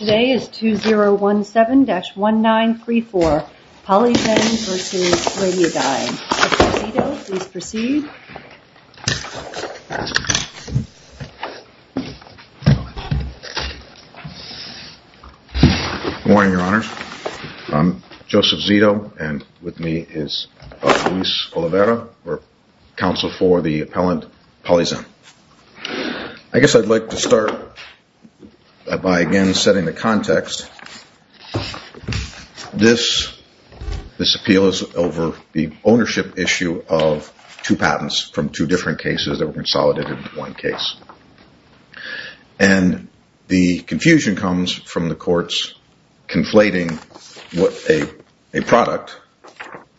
Today is 2017-1934, Polyzen v. Radiadyne, Joseph Zito, please proceed. Good morning, your honors. I'm Joseph Zito, and with me is Luis Oliveira, counsel for the appellant Polyzen. I guess I'd like to start by again setting the context. This appeal is over the ownership issue of two patents from two different cases that were consolidated into one case. And the confusion comes from the courts conflating a product,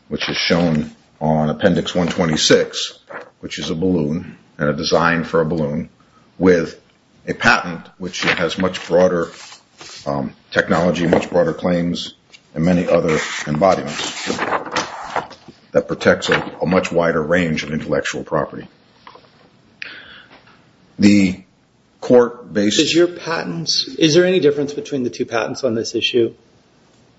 which is shown on Appendix 126, which is a balloon and a design for a balloon, with a patent which has much broader technology, much broader claims, and many other embodiments that protects a much wider range of intellectual property. Is there any difference between the two patents on this issue?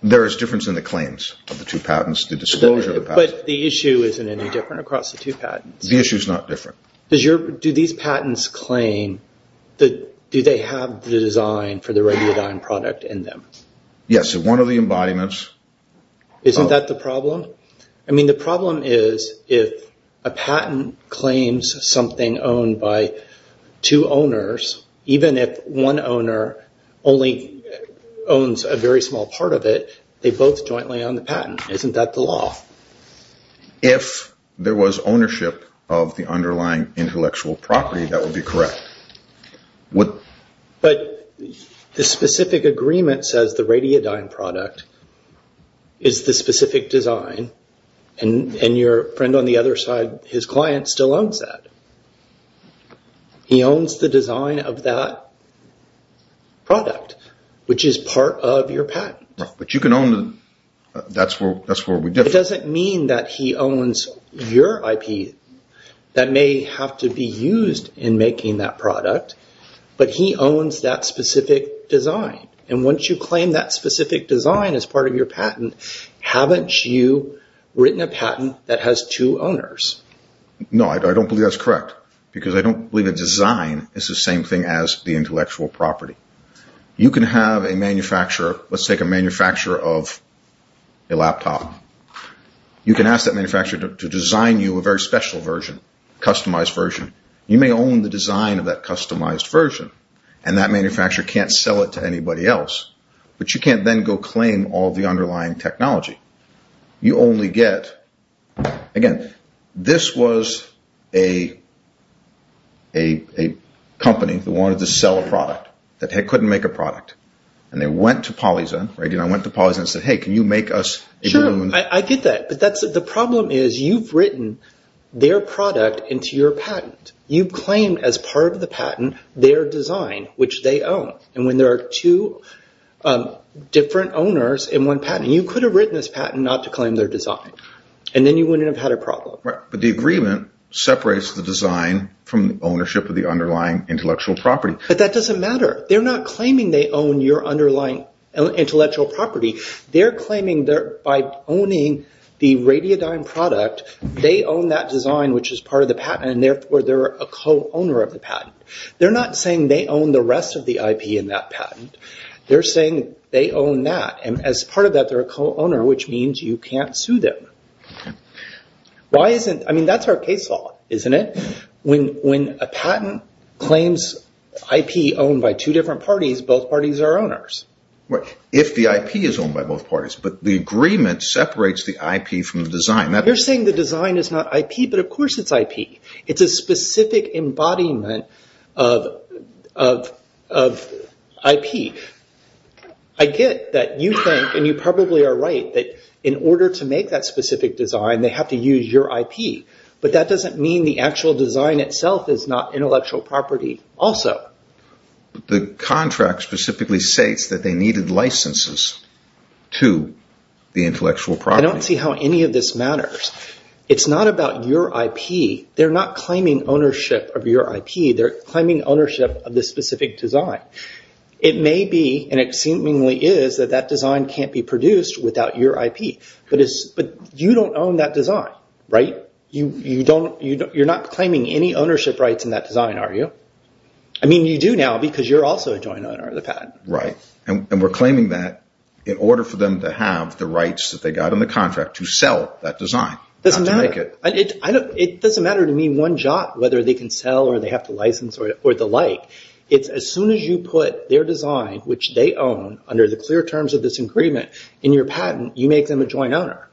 There is difference in the claims of the two patents, the disclosure of the patents. But the issue isn't any different across the two patents? The issue is not different. Do these patents claim, do they have the design for the Radiadyne product in them? Yes, one of the embodiments. Isn't that the problem? I mean, the problem is if a patent claims something owned by two owners, even if one owner only owns a very small part of it, they both jointly own the patent. Isn't that the law? If there was ownership of the underlying intellectual property, that would be correct. But the specific agreement says the Radiadyne product is the specific design, and your friend on the other side, his client, still owns that. He owns the design of that product, which is part of your patent. But you can own them. That's where we differ. It doesn't mean that he owns your IP that may have to be used in making that product, but he owns that specific design. And once you claim that specific design as part of your patent, haven't you written a patent that has two owners? No, I don't believe that's correct, because I don't believe a design is the same thing as the intellectual property. You can have a manufacturer, let's take a manufacturer of a laptop. You can ask that manufacturer to design you a very special version, a customized version. You may own the design of that customized version, and that manufacturer can't sell it to anybody else, but you can't then go claim all the underlying technology. Again, this was a company that wanted to sell a product, that couldn't make a product. And they went to Polyzone, Radiadyne went to Polyzone and said, hey, can you make us a balloon? Sure, I get that, but the problem is you've written their product into your patent. You've claimed as part of the patent their design, which they own. And when there are two different owners in one patent, you could have written this patent not to claim their design. And then you wouldn't have had a problem. But the agreement separates the design from the ownership of the underlying intellectual property. But that doesn't matter. They're not claiming they own your underlying intellectual property. They're claiming that by owning the Radiadyne product, they own that design, which is part of the patent, and therefore they're a co-owner of the patent. They're not saying they own the rest of the IP in that patent. They're saying they own that, and as part of that, they're a co-owner, which means you can't sue them. That's our case law, isn't it? When a patent claims IP owned by two different parties, both parties are owners. If the IP is owned by both parties, but the agreement separates the IP from the design. They're saying the design is not IP, but of course it's IP. It's a specific embodiment of IP. I get that you think, and you probably are right, that in order to make that specific design, they have to use your IP. But that doesn't mean the actual design itself is not intellectual property also. The contract specifically states that they needed licenses to the intellectual property. I don't see how any of this matters. It's not about your IP. They're not claiming ownership of your IP. They're claiming ownership of the specific design. It may be, and it seemingly is, that that design can't be produced without your IP. But you don't own that design, right? You're not claiming any ownership rights in that design, are you? I mean, you do now because you're also a joint owner of the patent. And we're claiming that in order for them to have the rights that they got in the contract to sell that design. It doesn't matter to me one jot whether they can sell or they have to license or the like. It's as soon as you put their design, which they own, under the clear terms of this agreement in your patent, you make them a joint owner.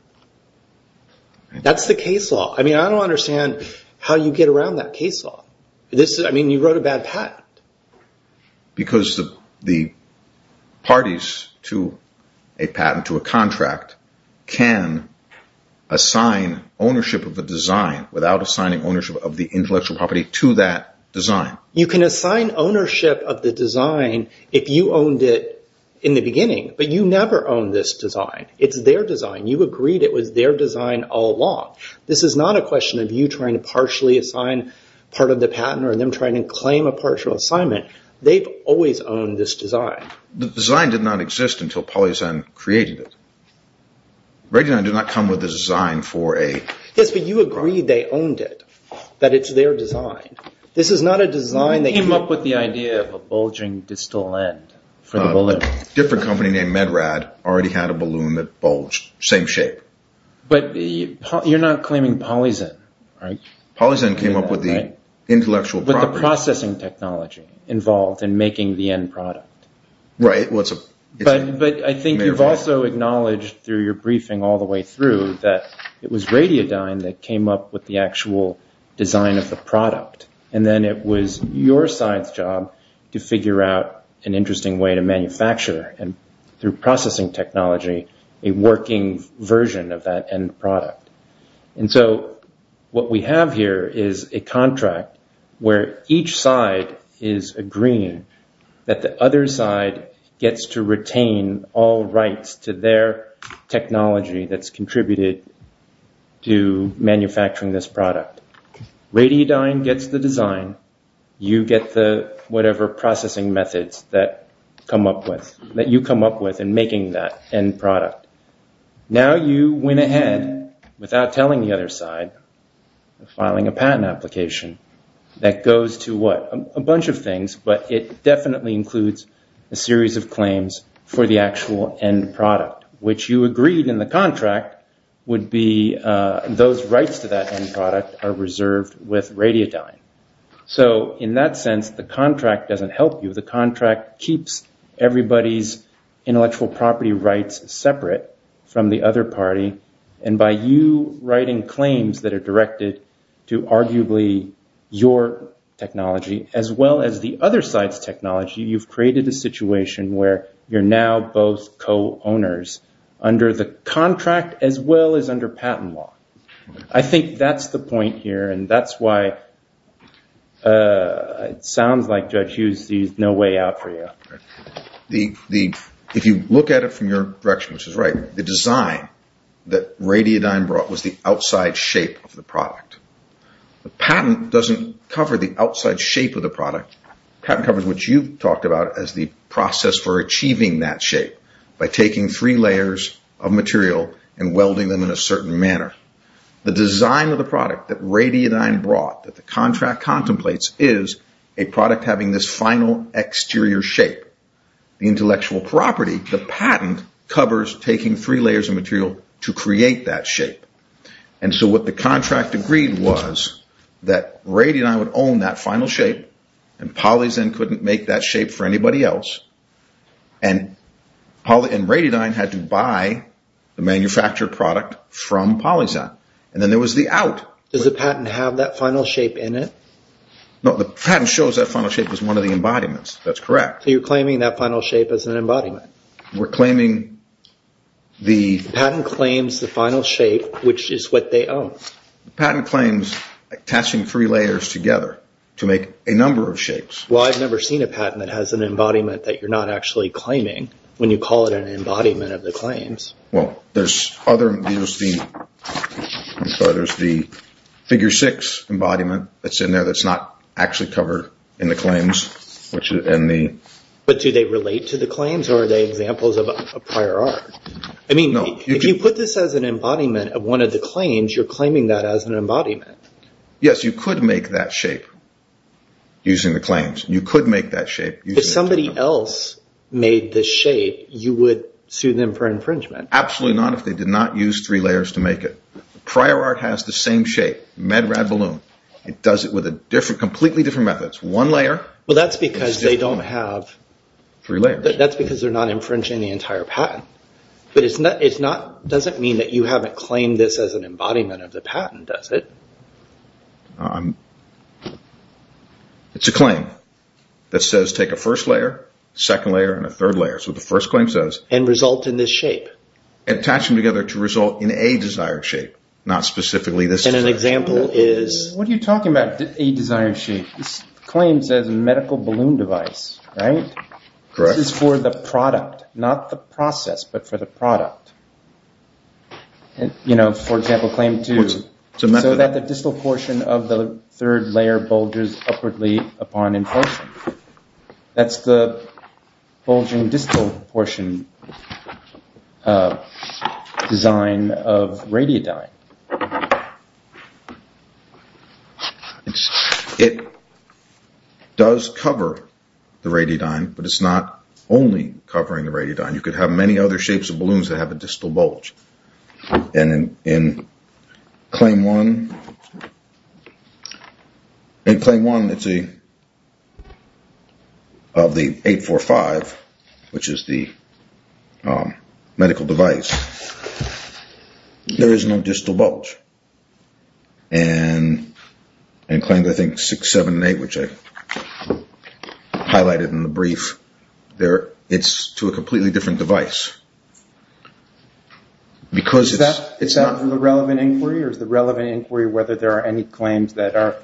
That's the case law. I mean, I don't understand how you get around that case law. I mean, you wrote a bad patent. Because the parties to a patent, to a contract, can assign ownership of the design without assigning ownership of the intellectual property to that design. You can assign ownership of the design if you owned it in the beginning. But you never owned this design. It's their design. You agreed it was their design all along. This is not a question of you trying to partially assign part of the patent or them trying to claim a partial assignment. They've always owned this design. The design did not exist until Polyazan created it. Regulon did not come with a design for a… Yes, but you agreed they owned it, that it's their design. This is not a design that… You came up with the idea of a bulging distal end for the balloon. A different company named Medrad already had a balloon that bulged, same shape. But you're not claiming Polyazan, right? Polyazan came up with the intellectual property. With the processing technology involved in making the end product. Right, well, it's a… But I think you've also acknowledged through your briefing all the way through that it was Radiodyne that came up with the actual design of the product. And then it was your side's job to figure out an interesting way to manufacture, through processing technology, a working version of that end product. And so what we have here is a contract where each side is agreeing that the other side gets to retain all rights to their technology that's contributed to manufacturing this product. Radiodyne gets the design, you get the whatever processing methods that come up with, that you come up with in making that end product. Now you went ahead, without telling the other side, filing a patent application that goes to what? A bunch of things, but it definitely includes a series of claims for the actual end product. Which you agreed in the contract would be those rights to that end product are reserved with Radiodyne. So in that sense, the contract doesn't help you. The contract keeps everybody's intellectual property rights separate from the other party. And by you writing claims that are directed to arguably your technology, as well as the other side's technology, you've created a situation where you're now both co-owners under the contract as well as under patent law. I think that's the point here and that's why it sounds like, Judge Hughes, there's no way out for you. If you look at it from your direction, which is right, the design that Radiodyne brought was the outside shape of the product. The patent doesn't cover the outside shape of the product. The patent covers what you've talked about as the process for achieving that shape by taking three layers of material and welding them in a certain manner. The design of the product that Radiodyne brought, that the contract contemplates, is a product having this final exterior shape. The intellectual property, the patent, covers taking three layers of material to create that shape. And so what the contract agreed was that Radiodyne would own that final shape and PolyZen couldn't make that shape for anybody else. And Radiodyne had to buy the manufactured product from PolyZen. And then there was the out. Does the patent have that final shape in it? No, the patent shows that final shape as one of the embodiments. That's correct. So you're claiming that final shape as an embodiment? We're claiming the… The patent claims the final shape, which is what they own. The patent claims attaching three layers together to make a number of shapes. Well, I've never seen a patent that has an embodiment that you're not actually claiming when you call it an embodiment of the claims. Well, there's other… There's the figure six embodiment that's in there that's not actually covered in the claims, which is in the… But do they relate to the claims or are they examples of prior art? No. I mean, if you put this as an embodiment of one of the claims, you're claiming that as an embodiment. Yes, you could make that shape using the claims. You could make that shape using… If somebody else made the shape, you would sue them for infringement? Absolutely not if they did not use three layers to make it. Prior art has the same shape, med-rad balloon. It does it with a different, completely different method. It's one layer. Well, that's because they don't have… Three layers. That's because they're not infringing the entire patent. But it doesn't mean that you haven't claimed this as an embodiment of the patent, does it? It's a claim that says take a first layer, second layer, and a third layer. So the first claim says… And result in this shape. Attach them together to result in a desired shape, not specifically this desired shape. And an example is… What are you talking about, a desired shape? This claim says medical balloon device, right? Correct. This is for the product, not the process, but for the product. For example, claim two. It's a method. So that the distal portion of the third layer bulges upwardly upon inflation. That's the bulging distal portion design of radiodyne. It does cover the radiodyne, but it's not only covering the radiodyne. You could have many other shapes of balloons that have a distal bulge. And in claim one… In claim one of the 845, which is the medical device, there is no distal bulge. And in claims I think 6, 7, and 8, which I highlighted in the brief, it's to a completely different device. Is that for the relevant inquiry? Or is the relevant inquiry whether there are any claims that are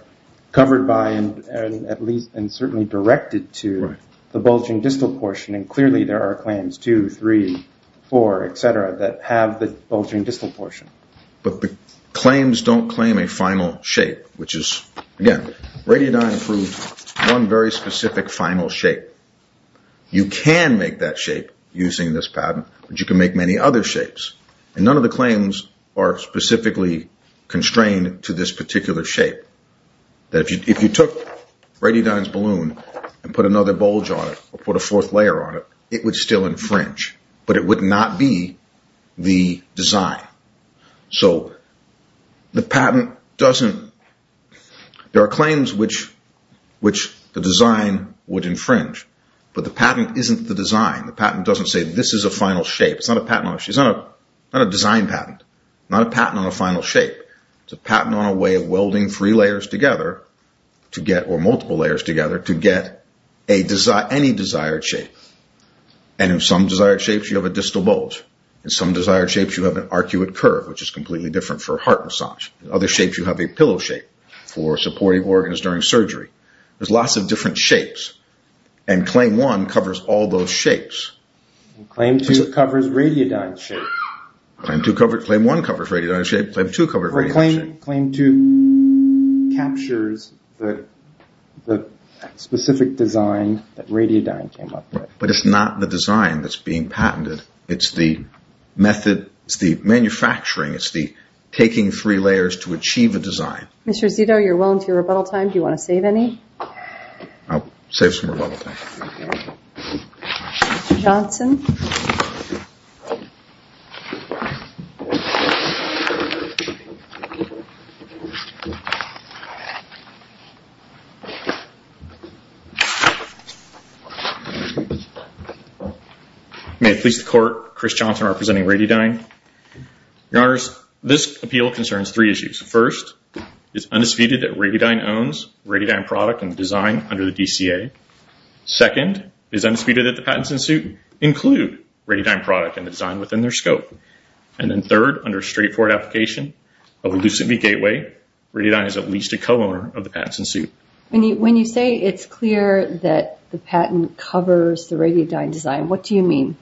covered by and certainly directed to the bulging distal portion? And clearly there are claims 2, 3, 4, etc. that have the bulging distal portion. But the claims don't claim a final shape, which is… Again, radiodyne proved one very specific final shape. You can make that shape using this patent, but you can make many other shapes. And none of the claims are specifically constrained to this particular shape. If you took radiodyne's balloon and put another bulge on it or put a fourth layer on it, it would still infringe. But it would not be the design. So the patent doesn't… There are claims which the design would infringe. But the patent isn't the design. The patent doesn't say this is a final shape. It's not a design patent. Not a patent on a final shape. It's a patent on a way of welding three layers together or multiple layers together to get any desired shape. And in some desired shapes you have a distal bulge. In some desired shapes you have an arcuate curve, which is completely different for heart massage. In other shapes you have a pillow shape for supporting organs during surgery. There's lots of different shapes. And Claim 1 covers all those shapes. Claim 2 covers radiodyne's shape. Claim 1 covers radiodyne's shape. Claim 2 covers radiodyne's shape. Claim 2 captures the specific design that radiodyne came up with. But it's not the design that's being patented. It's the method. It's the manufacturing. It's the taking three layers to achieve a design. Mr. Zito, you're well into your rebuttal time. Do you want to save any? Mr. Johnson. May it please the Court, Chris Johnson representing radiodyne. Your Honors, this appeal concerns three issues. First, it's undisputed that radiodyne owns radiodyne product and design under the DCA. Second, it's undisputed that the patents in suit include radiodyne product and the design under the DCA. And then third, under straightforward application of the Lucent v. Gateway, radiodyne is at least a co-owner of the patents in suit. When you say it's clear that the patent covers the radiodyne design, what do you mean?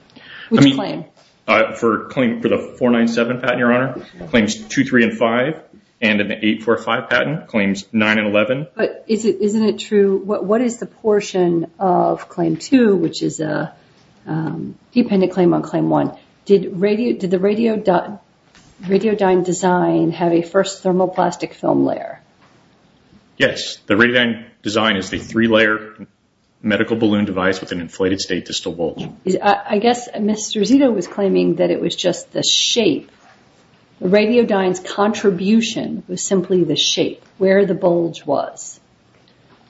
Which claim? For the 497 patent, Your Honor. Claims 2, 3, and 5. And in the 845 patent, claims 9 and 11. But isn't it true? What is the portion of claim 2, which is a dependent claim on claim 1? Did the radiodyne design have a first thermoplastic film layer? Yes. The radiodyne design is a three-layer medical balloon device with an inflated state distal bulge. I guess Mr. Zito was claiming that it was just the shape. The radiodyne's contribution was simply the shape, where the bulge was.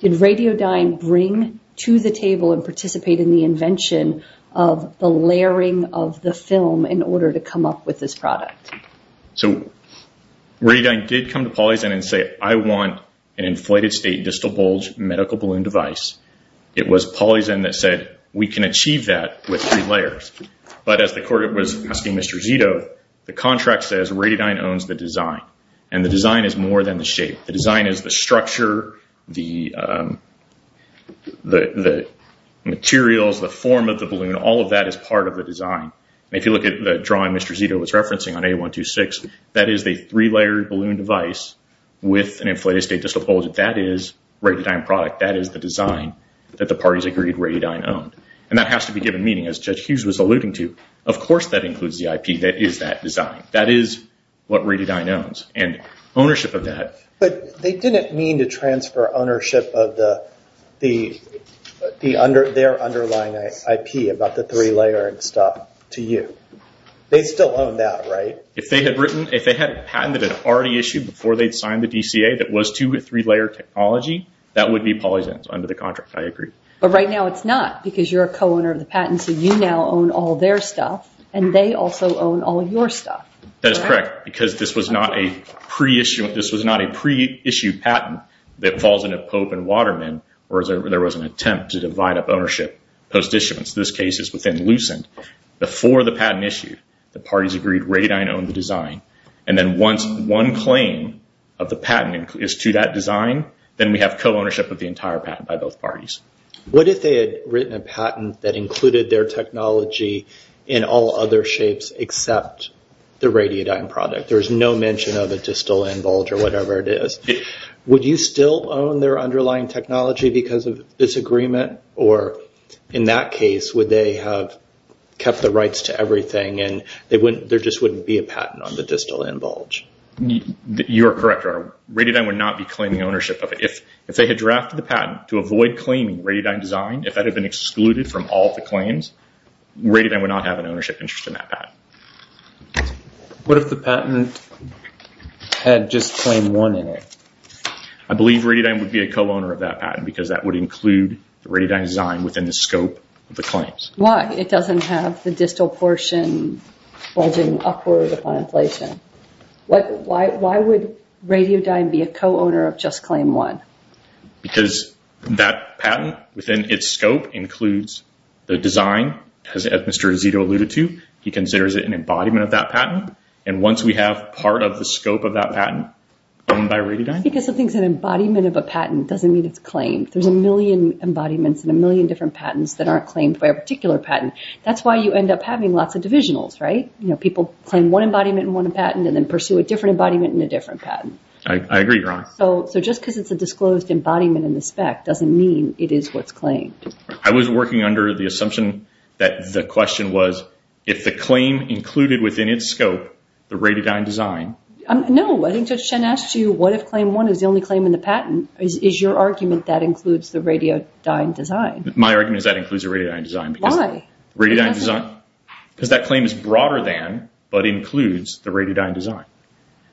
Did radiodyne bring to the table and participate in the invention of the layering of the film in order to come up with this product? So radiodyne did come to PolyZen and say, I want an inflated state distal bulge medical balloon device. It was PolyZen that said, we can achieve that with three layers. But as the court was asking Mr. Zito, the contract says radiodyne owns the design. And the design is more than the shape. The design is the structure, the materials, the form of the balloon. All of that is part of the design. If you look at the drawing Mr. Zito was referencing on A126, that is a three-layered balloon device with an inflated state distal bulge. That is radiodyne product. That is the design that the parties agreed radiodyne owned. And that has to be given meaning. As Judge Hughes was alluding to, of course that includes ZIP. That is that design. That is what radiodyne owns. And ownership of that. But they didn't mean to transfer ownership of their underlying IP about the three-layer and stuff to you. They still own that, right? If they had written, if they had patented it already issued before they had signed the DCA that was two or three-layer technology, that would be PolyZen under the contract. I agree. But right now it's not because you're a co-owner of the patent. So you now own all their stuff. And they also own all of your stuff. That is correct. Because this was not a pre-issued patent that falls into Pope and Waterman, where there was an attempt to divide up ownership. This case is within Lucent. Before the patent issue, the parties agreed radiodyne owned the design. And then once one claim of the patent is to that design, then we have co-ownership of the entire patent by both parties. What if they had written a patent that included their technology in all other shapes except the radiodyne product? There's no mention of a distal end bulge or whatever it is. Would you still own their underlying technology because of this agreement? Or in that case, would they have kept the rights to everything and there just wouldn't be a patent on the distal end bulge? You are correct, Your Honor. Radiodyne would not be claiming ownership of it. If they had drafted the patent to avoid claiming radiodyne design, if that had been excluded from all of the claims, radiodyne would not have an ownership interest in that patent. What if the patent had just claim one in it? I believe radiodyne would be a co-owner of that patent because that would include the radiodyne design within the scope of the claims. Why? It doesn't have the distal portion bulging upward upon inflation. Why would radiodyne be a co-owner of just claim one? Because that patent within its scope includes the design, as Mr. Izito alluded to. He considers it an embodiment of that patent. And once we have part of the scope of that patent owned by radiodyne— Because something's an embodiment of a patent doesn't mean it's claimed. There's a million embodiments and a million different patents that aren't claimed by a particular patent. That's why you end up having lots of divisionals, right? People claim one embodiment and one patent and then pursue a different embodiment and a different patent. I agree, Your Honor. So just because it's a disclosed embodiment in the spec doesn't mean it is what's claimed. I was working under the assumption that the question was, if the claim included within its scope the radiodyne design— No, I think Judge Chen asked you, what if claim one is the only claim in the patent? Is your argument that includes the radiodyne design? My argument is that includes the radiodyne design. Why? Radiodyne design? Because that claim is broader than but includes the radiodyne design.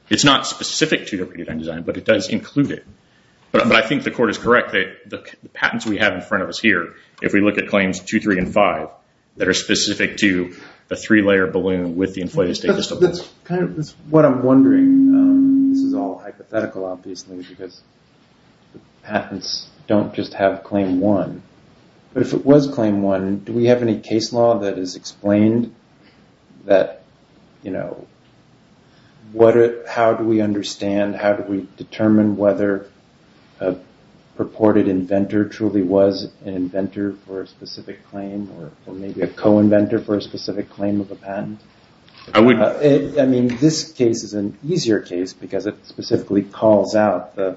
It's not specific to the radiodyne design, but it does include it. But I think the court is correct that the patents we have in front of us here, if we look at claims two, three, and five, that are specific to the three-layer balloon with the inflated state disturbance. That's what I'm wondering. This is all hypothetical, obviously, because the patents don't just have claim one. But if it was claim one, do we have any case law that has explained that, you know, how do we understand, how do we determine whether a purported inventor truly was an inventor for a specific claim or maybe a co-inventor for a specific claim of a patent? I mean, this case is an easier case because it specifically calls out the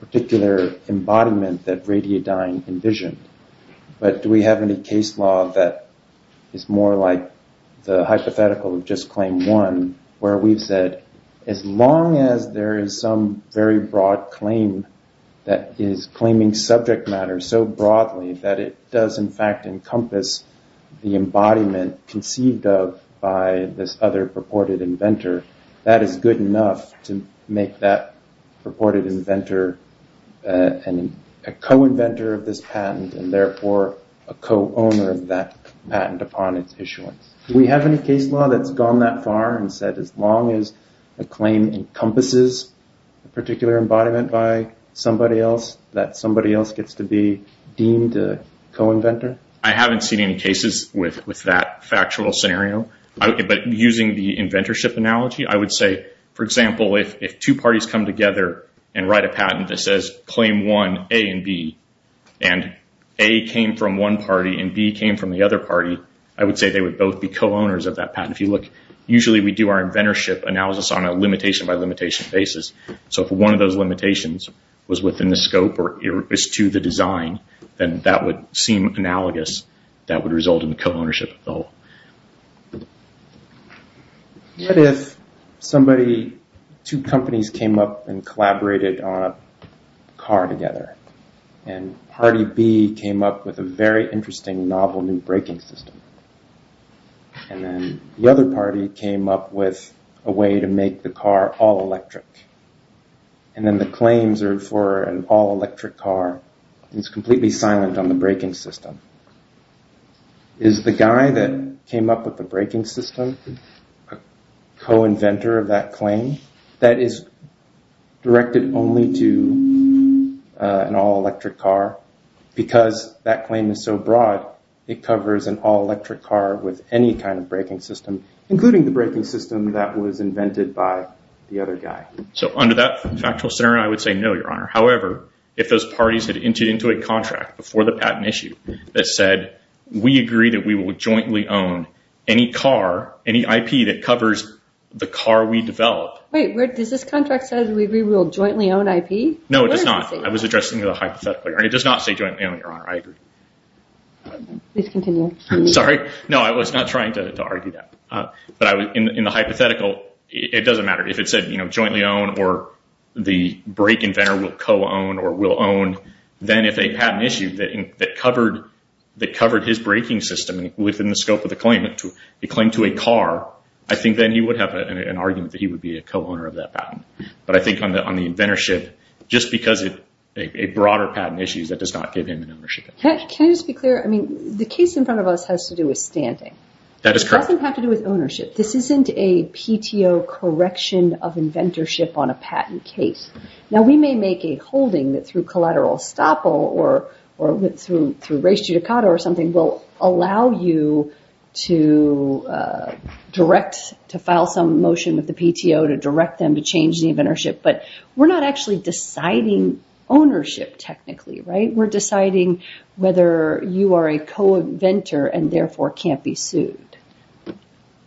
particular embodiment that radiodyne envisioned. But do we have any case law that is more like the hypothetical of just claim one where we've said as long as there is some very broad claim that is claiming subject matter so broadly that it does, in fact, encompass the embodiment conceived of by this other purported inventor, that is good enough to make that purported inventor a co-inventor of this patent and therefore a co-owner of that patent upon its issuance? Do we have any case law that's gone that far and said as long as a claim encompasses a particular embodiment by somebody else, that somebody else gets to be deemed a co-inventor? I haven't seen any cases with that factual scenario. But using the inventorship analogy, I would say, for example, if two parties come together and write a patent that says claim one, A and B, and A came from one party and B came from the other party, I would say they would both be co-owners of that patent. If you look, usually we do our inventorship analysis on a limitation-by-limitation basis. So if one of those limitations was within the scope or is to the design, then that would seem analogous, that would result in the co-ownership of the whole. What if somebody, two companies came up and collaborated on a car together and party B came up with a very interesting novel new braking system and then the other party came up with a way to make the car all-electric and then the claims are for an all-electric car. It's completely silent on the braking system. Is the guy that came up with the braking system a co-inventor of that claim that is directed only to an all-electric car? Because that claim is so broad, it covers an all-electric car with any kind of braking system, including the braking system that was invented by the other guy. So under that factual scenario, I would say no, Your Honor. However, if those parties had entered into a contract before the patent issue that said we agree that we will jointly own any car, any IP that covers the car we develop. Wait, does this contract say we will jointly own IP? No, it does not. I was addressing the hypothetical. It does not say jointly own, Your Honor. I agree. Please continue. Sorry. No, I was not trying to argue that. But in the hypothetical, it doesn't matter. If it said jointly own or the brake inventor will co-own or will own, then if they had an issue that covered his braking system within the scope of the claim to a car, I think then he would have an argument that he would be a co-owner of that patent. But I think on the inventorship, just because it's a broader patent issue, that does not give him an ownership. Can I just be clear? I mean, the case in front of us has to do with standing. That is correct. It doesn't have to do with ownership. This isn't a PTO correction of inventorship on a patent case. Now, we may make a holding that through collateral estoppel or through res judicata or something will allow you to direct, to file some motion with the PTO to direct them to change the inventorship, but we're not actually deciding ownership technically, right? We're deciding whether you are a co-inventor and, therefore, can't be sued.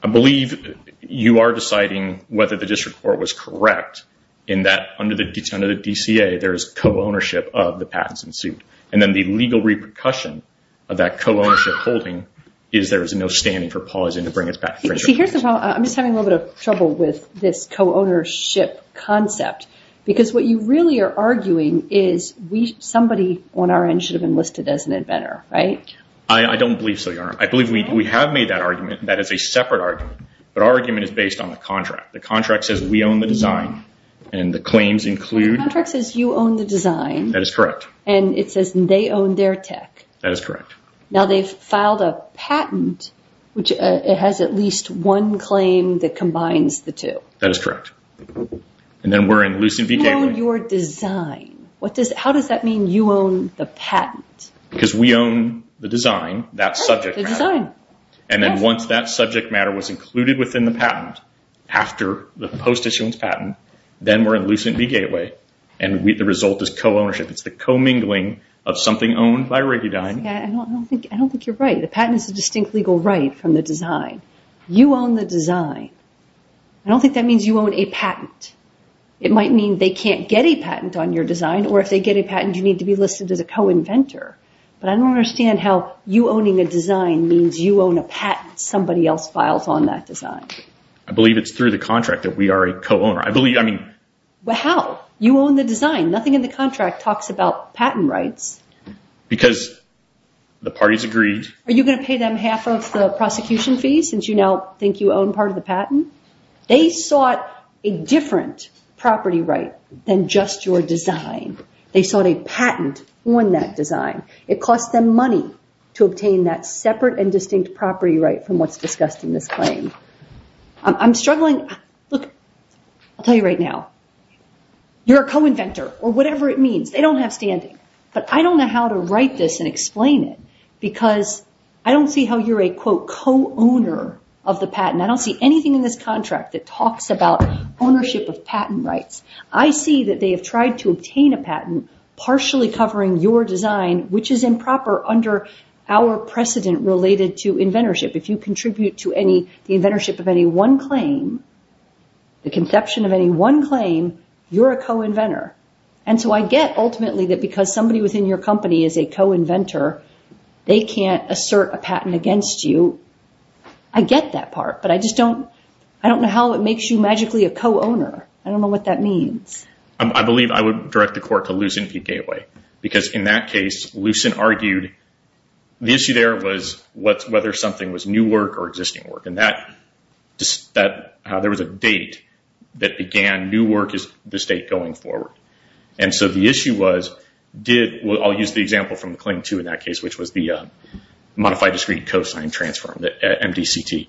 I believe you are deciding whether the district court was correct in that under the DCA, there is co-ownership of the patents in suit. And then the legal repercussion of that co-ownership holding is there is no standing for Paul Isen to bring his patent infringement case. See, here's the problem. I'm just having a little bit of trouble with this co-ownership concept because what you really are arguing is somebody on our end should have been listed as an inventor, right? I don't believe so, Your Honor. I believe we have made that argument. That is a separate argument. But our argument is based on the contract. The contract says we own the design and the claims include. The contract says you own the design. That is correct. And it says they own their tech. That is correct. Now, they've filed a patent which has at least one claim that combines the two. That is correct. And then we're in Lucent v. Gateway. You own your design. How does that mean you own the patent? Because we own the design, that subject matter. The design. And then once that subject matter was included within the patent after the post-issuance patent, then we're in Lucent v. Gateway, and the result is co-ownership. It's the co-mingling of something owned by Regudine. I don't think you're right. The patent is a distinct legal right from the design. You own the design. I don't think that means you own a patent. It might mean they can't get a patent on your design, or if they get a patent, you need to be listed as a co-inventor. But I don't understand how you owning a design means you own a patent somebody else files on that design. I believe it's through the contract that we are a co-owner. I believe, I mean. How? You own the design. Nothing in the contract talks about patent rights. Because the parties agreed. Are you going to pay them half of the prosecution fees since you now think you own part of the patent? They sought a different property right than just your design. They sought a patent on that design. It cost them money to obtain that separate and distinct property right from what's discussed in this claim. I'm struggling. Look, I'll tell you right now. You're a co-inventor, or whatever it means. They don't have standing. But I don't know how to write this and explain it. Because I don't see how you're a, quote, co-owner of the patent. I don't see anything in this contract that talks about ownership of patent rights. I see that they have tried to obtain a patent partially covering your design, which is improper under our precedent related to inventorship. If you contribute to the inventorship of any one claim, the conception of any one claim, you're a co-inventor. And so I get, ultimately, that because somebody within your company is a co-inventor, they can't assert a patent against you. I get that part. But I just don't know how it makes you magically a co-owner. I don't know what that means. I believe I would direct the court to Lucent v. Gateway. Because in that case, Lucent argued the issue there was whether something was new work or existing work. There was a date that began new work as the state going forward. And so the issue was, I'll use the example from the claim two in that case, which was the modified discrete cosine transform, the MDCT.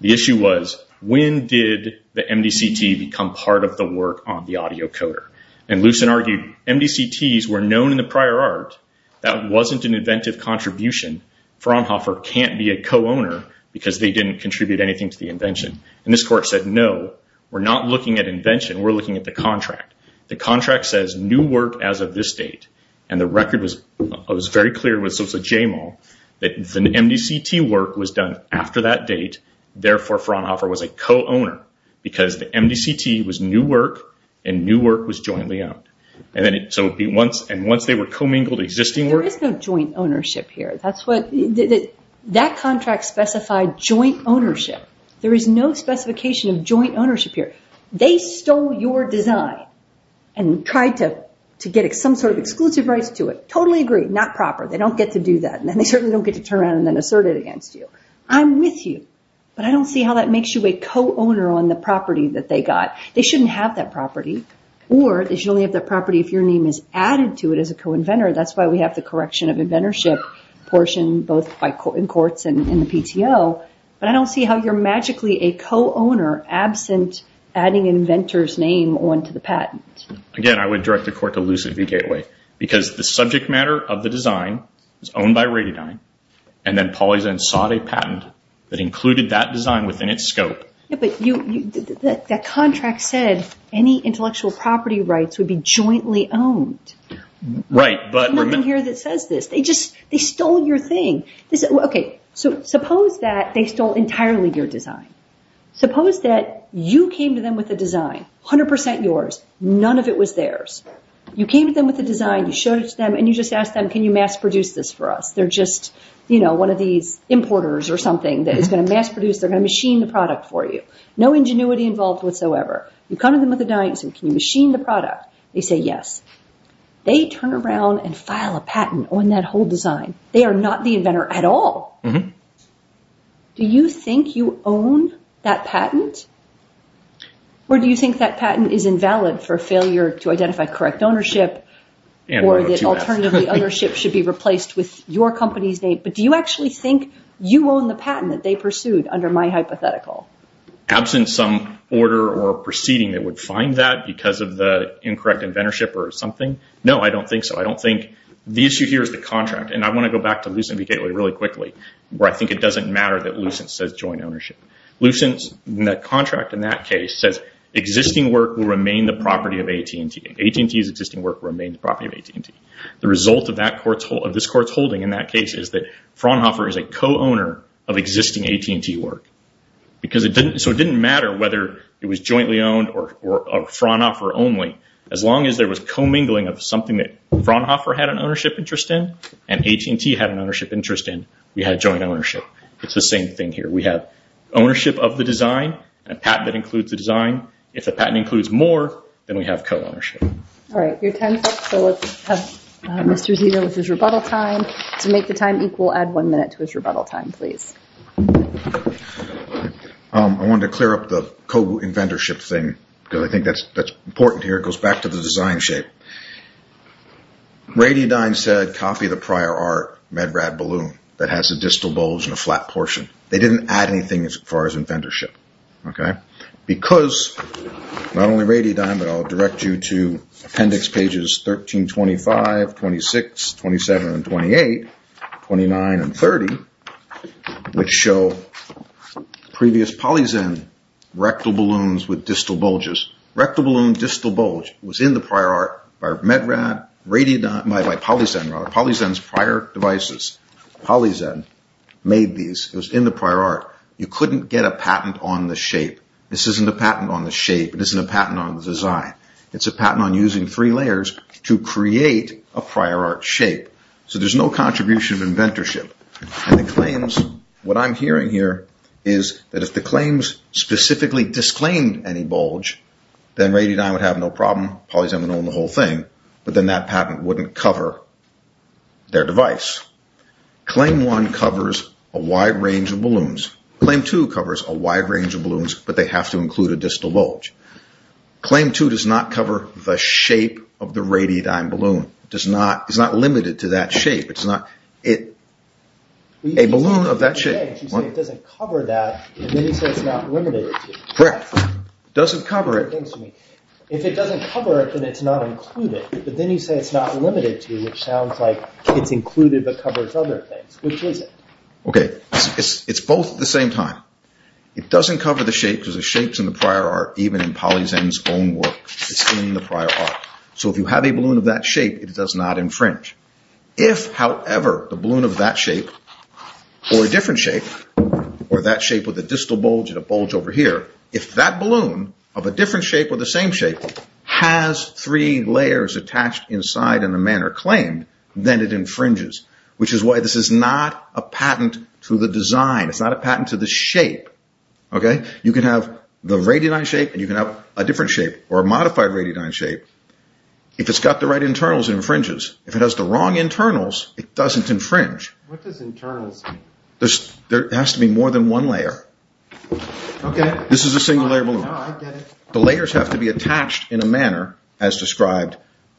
The issue was, when did the MDCT become part of the work on the audio coder? And Lucent argued MDCTs were known in the prior art. That wasn't an inventive contribution. Fraunhofer can't be a co-owner because they didn't contribute anything to the invention. And this court said, no, we're not looking at invention. We're looking at the contract. The contract says new work as of this date. And the record was very clear with Jamal that the MDCT work was done after that date. Therefore, Fraunhofer was a co-owner because the MDCT was new work, and new work was jointly owned. And once they were co-mingled, existing work— There is no joint ownership here. That contract specified joint ownership. There is no specification of joint ownership here. They stole your design and tried to get some sort of exclusive rights to it. Totally agree, not proper. They don't get to do that. And then they certainly don't get to turn around and then assert it against you. I'm with you, but I don't see how that makes you a co-owner on the property that they got. They shouldn't have that property. Or they should only have that property if your name is added to it as a co-inventor. That's why we have the correction of inventorship portion both in courts and in the PTO. But I don't see how you're magically a co-owner absent adding an inventor's name onto the patent. Again, I would direct the court to Lucid VGateway because the subject matter of the design is owned by Radydyne. And then Polyzant sought a patent that included that design within its scope. But that contract said any intellectual property rights would be jointly owned. There's nothing here that says this. They just stole your thing. Okay, so suppose that they stole entirely your design. Suppose that you came to them with a design, 100% yours, none of it was theirs. You came to them with a design, you showed it to them, and you just asked them, can you mass produce this for us? They're just one of these importers or something that is going to mass produce, they're going to machine the product for you. No ingenuity involved whatsoever. You come to them with a design, you say, can you machine the product? They say yes. They turn around and file a patent on that whole design. They are not the inventor at all. Do you think you own that patent? Or do you think that patent is invalid for failure to identify correct ownership or that alternatively ownership should be replaced with your company's name? But do you actually think you own the patent that they pursued under my hypothetical? Absent some order or proceeding that would find that because of the incorrect inventorship or something? No, I don't think so. I don't think the issue here is the contract. And I want to go back to Lucent v. Gateway really quickly, where I think it doesn't matter that Lucent says joint ownership. Lucent's contract in that case says existing work will remain the property of AT&T. AT&T's existing work remains the property of AT&T. The result of this court's holding in that case is that Fraunhofer is a co-owner of existing AT&T work. So it didn't matter whether it was jointly owned or Fraunhofer only. As long as there was co-mingling of something that Fraunhofer had an ownership interest in and AT&T had an ownership interest in, we had joint ownership. It's the same thing here. We have ownership of the design and a patent that includes the design. If the patent includes more, then we have co-ownership. All right, your time's up. So let's have Mr. Zia with his rebuttal time. To make the time equal, add one minute to his rebuttal time, please. I wanted to clear up the co-inventorship thing, because I think that's important here. It goes back to the design shape. Rady Dine said, copy the prior art, Med-Rad Balloon, that has the distal bulge and a flat portion. They didn't add anything as far as inventorship. Because not only Rady Dine, but I'll direct you to appendix pages 1325, 26, 27, and 28, 29, and 30, which show previous PolyZen rectal balloons with distal bulges. Rectal balloon distal bulge was in the prior art by PolyZen's prior devices. PolyZen made these. It was in the prior art. You couldn't get a patent on the shape. This isn't a patent on the shape. It isn't a patent on the design. It's a patent on using three layers to create a prior art shape. So there's no contribution of inventorship. And the claims, what I'm hearing here, is that if the claims specifically disclaimed any bulge, then Rady Dine would have no problem. PolyZen would own the whole thing. But then that patent wouldn't cover their device. Claim 1 covers a wide range of balloons. Claim 2 covers a wide range of balloons, but they have to include a distal bulge. Claim 2 does not cover the shape of the Rady Dine balloon. It's not limited to that shape. It's not a balloon of that shape. You say it doesn't cover that, and then you say it's not limited to. Correct. It doesn't cover it. If it doesn't cover it, then it's not included. But then you say it's not limited to, which sounds like it's included but covers other things. Which is it? Okay. It's both at the same time. It doesn't cover the shape because the shape's in the prior art, even in PolyZen's own work. It's in the prior art. So if you have a balloon of that shape, it does not infringe. If, however, the balloon of that shape, or a different shape, or that shape with a distal bulge and a bulge over here, if that balloon of a different shape or the same shape has three layers attached inside in the manner claimed, then it infringes, which is why this is not a patent to the design. It's not a patent to the shape. You can have the Rady Dine shape, and you can have a different shape or a modified Rady Dine shape. If it's got the right internals, it infringes. If it has the wrong internals, it doesn't infringe. What does internals mean? There has to be more than one layer. This is a single-layer balloon. The layers have to be attached in a manner as described.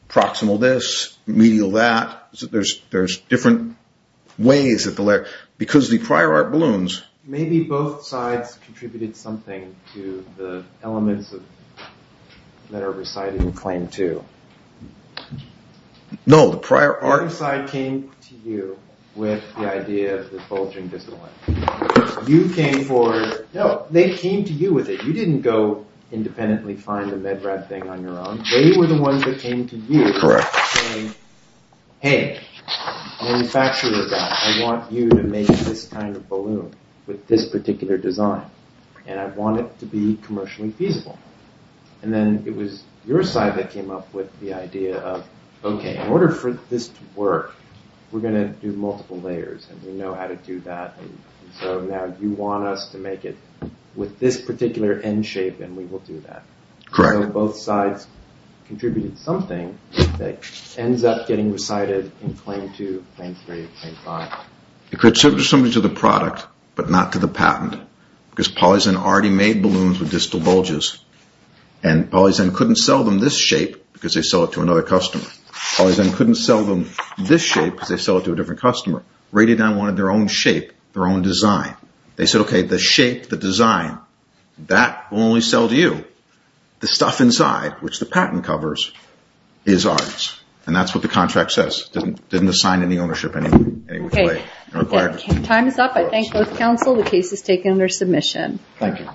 Proximal this, medial that. There's different ways that the layer... Because the prior art balloons... Maybe both sides contributed something to the elements that are recited in claim two. No, the prior art... Either side came to you with the idea of the bulging distal length. You came for... No, they came to you with it. You didn't go independently find the MedRab thing on your own. They were the ones that came to you and said, Hey, manufacturer of that, I want you to make this kind of balloon with this particular design, and I want it to be commercially feasible. And then it was your side that came up with the idea of, okay, in order for this to work, we're going to do multiple layers, and we know how to do that, and so now you want us to make it with this particular end shape, and we will do that. Correct. So both sides contributed something that ends up getting recited in claim two, claim three, claim five. It contributed something to the product, but not to the patent, because PolyZen already made balloons with distal bulges, and PolyZen couldn't sell them this shape because they sell it to another customer. PolyZen couldn't sell them this shape because they sell it to a different customer. Radiodon wanted their own shape, their own design. They said, okay, the shape, the design, that will only sell to you. The stuff inside, which the patent covers, is ours. And that's what the contract says. It didn't assign any ownership in any way. Time is up. I thank both counsel. The case is taken under submission. Thank you.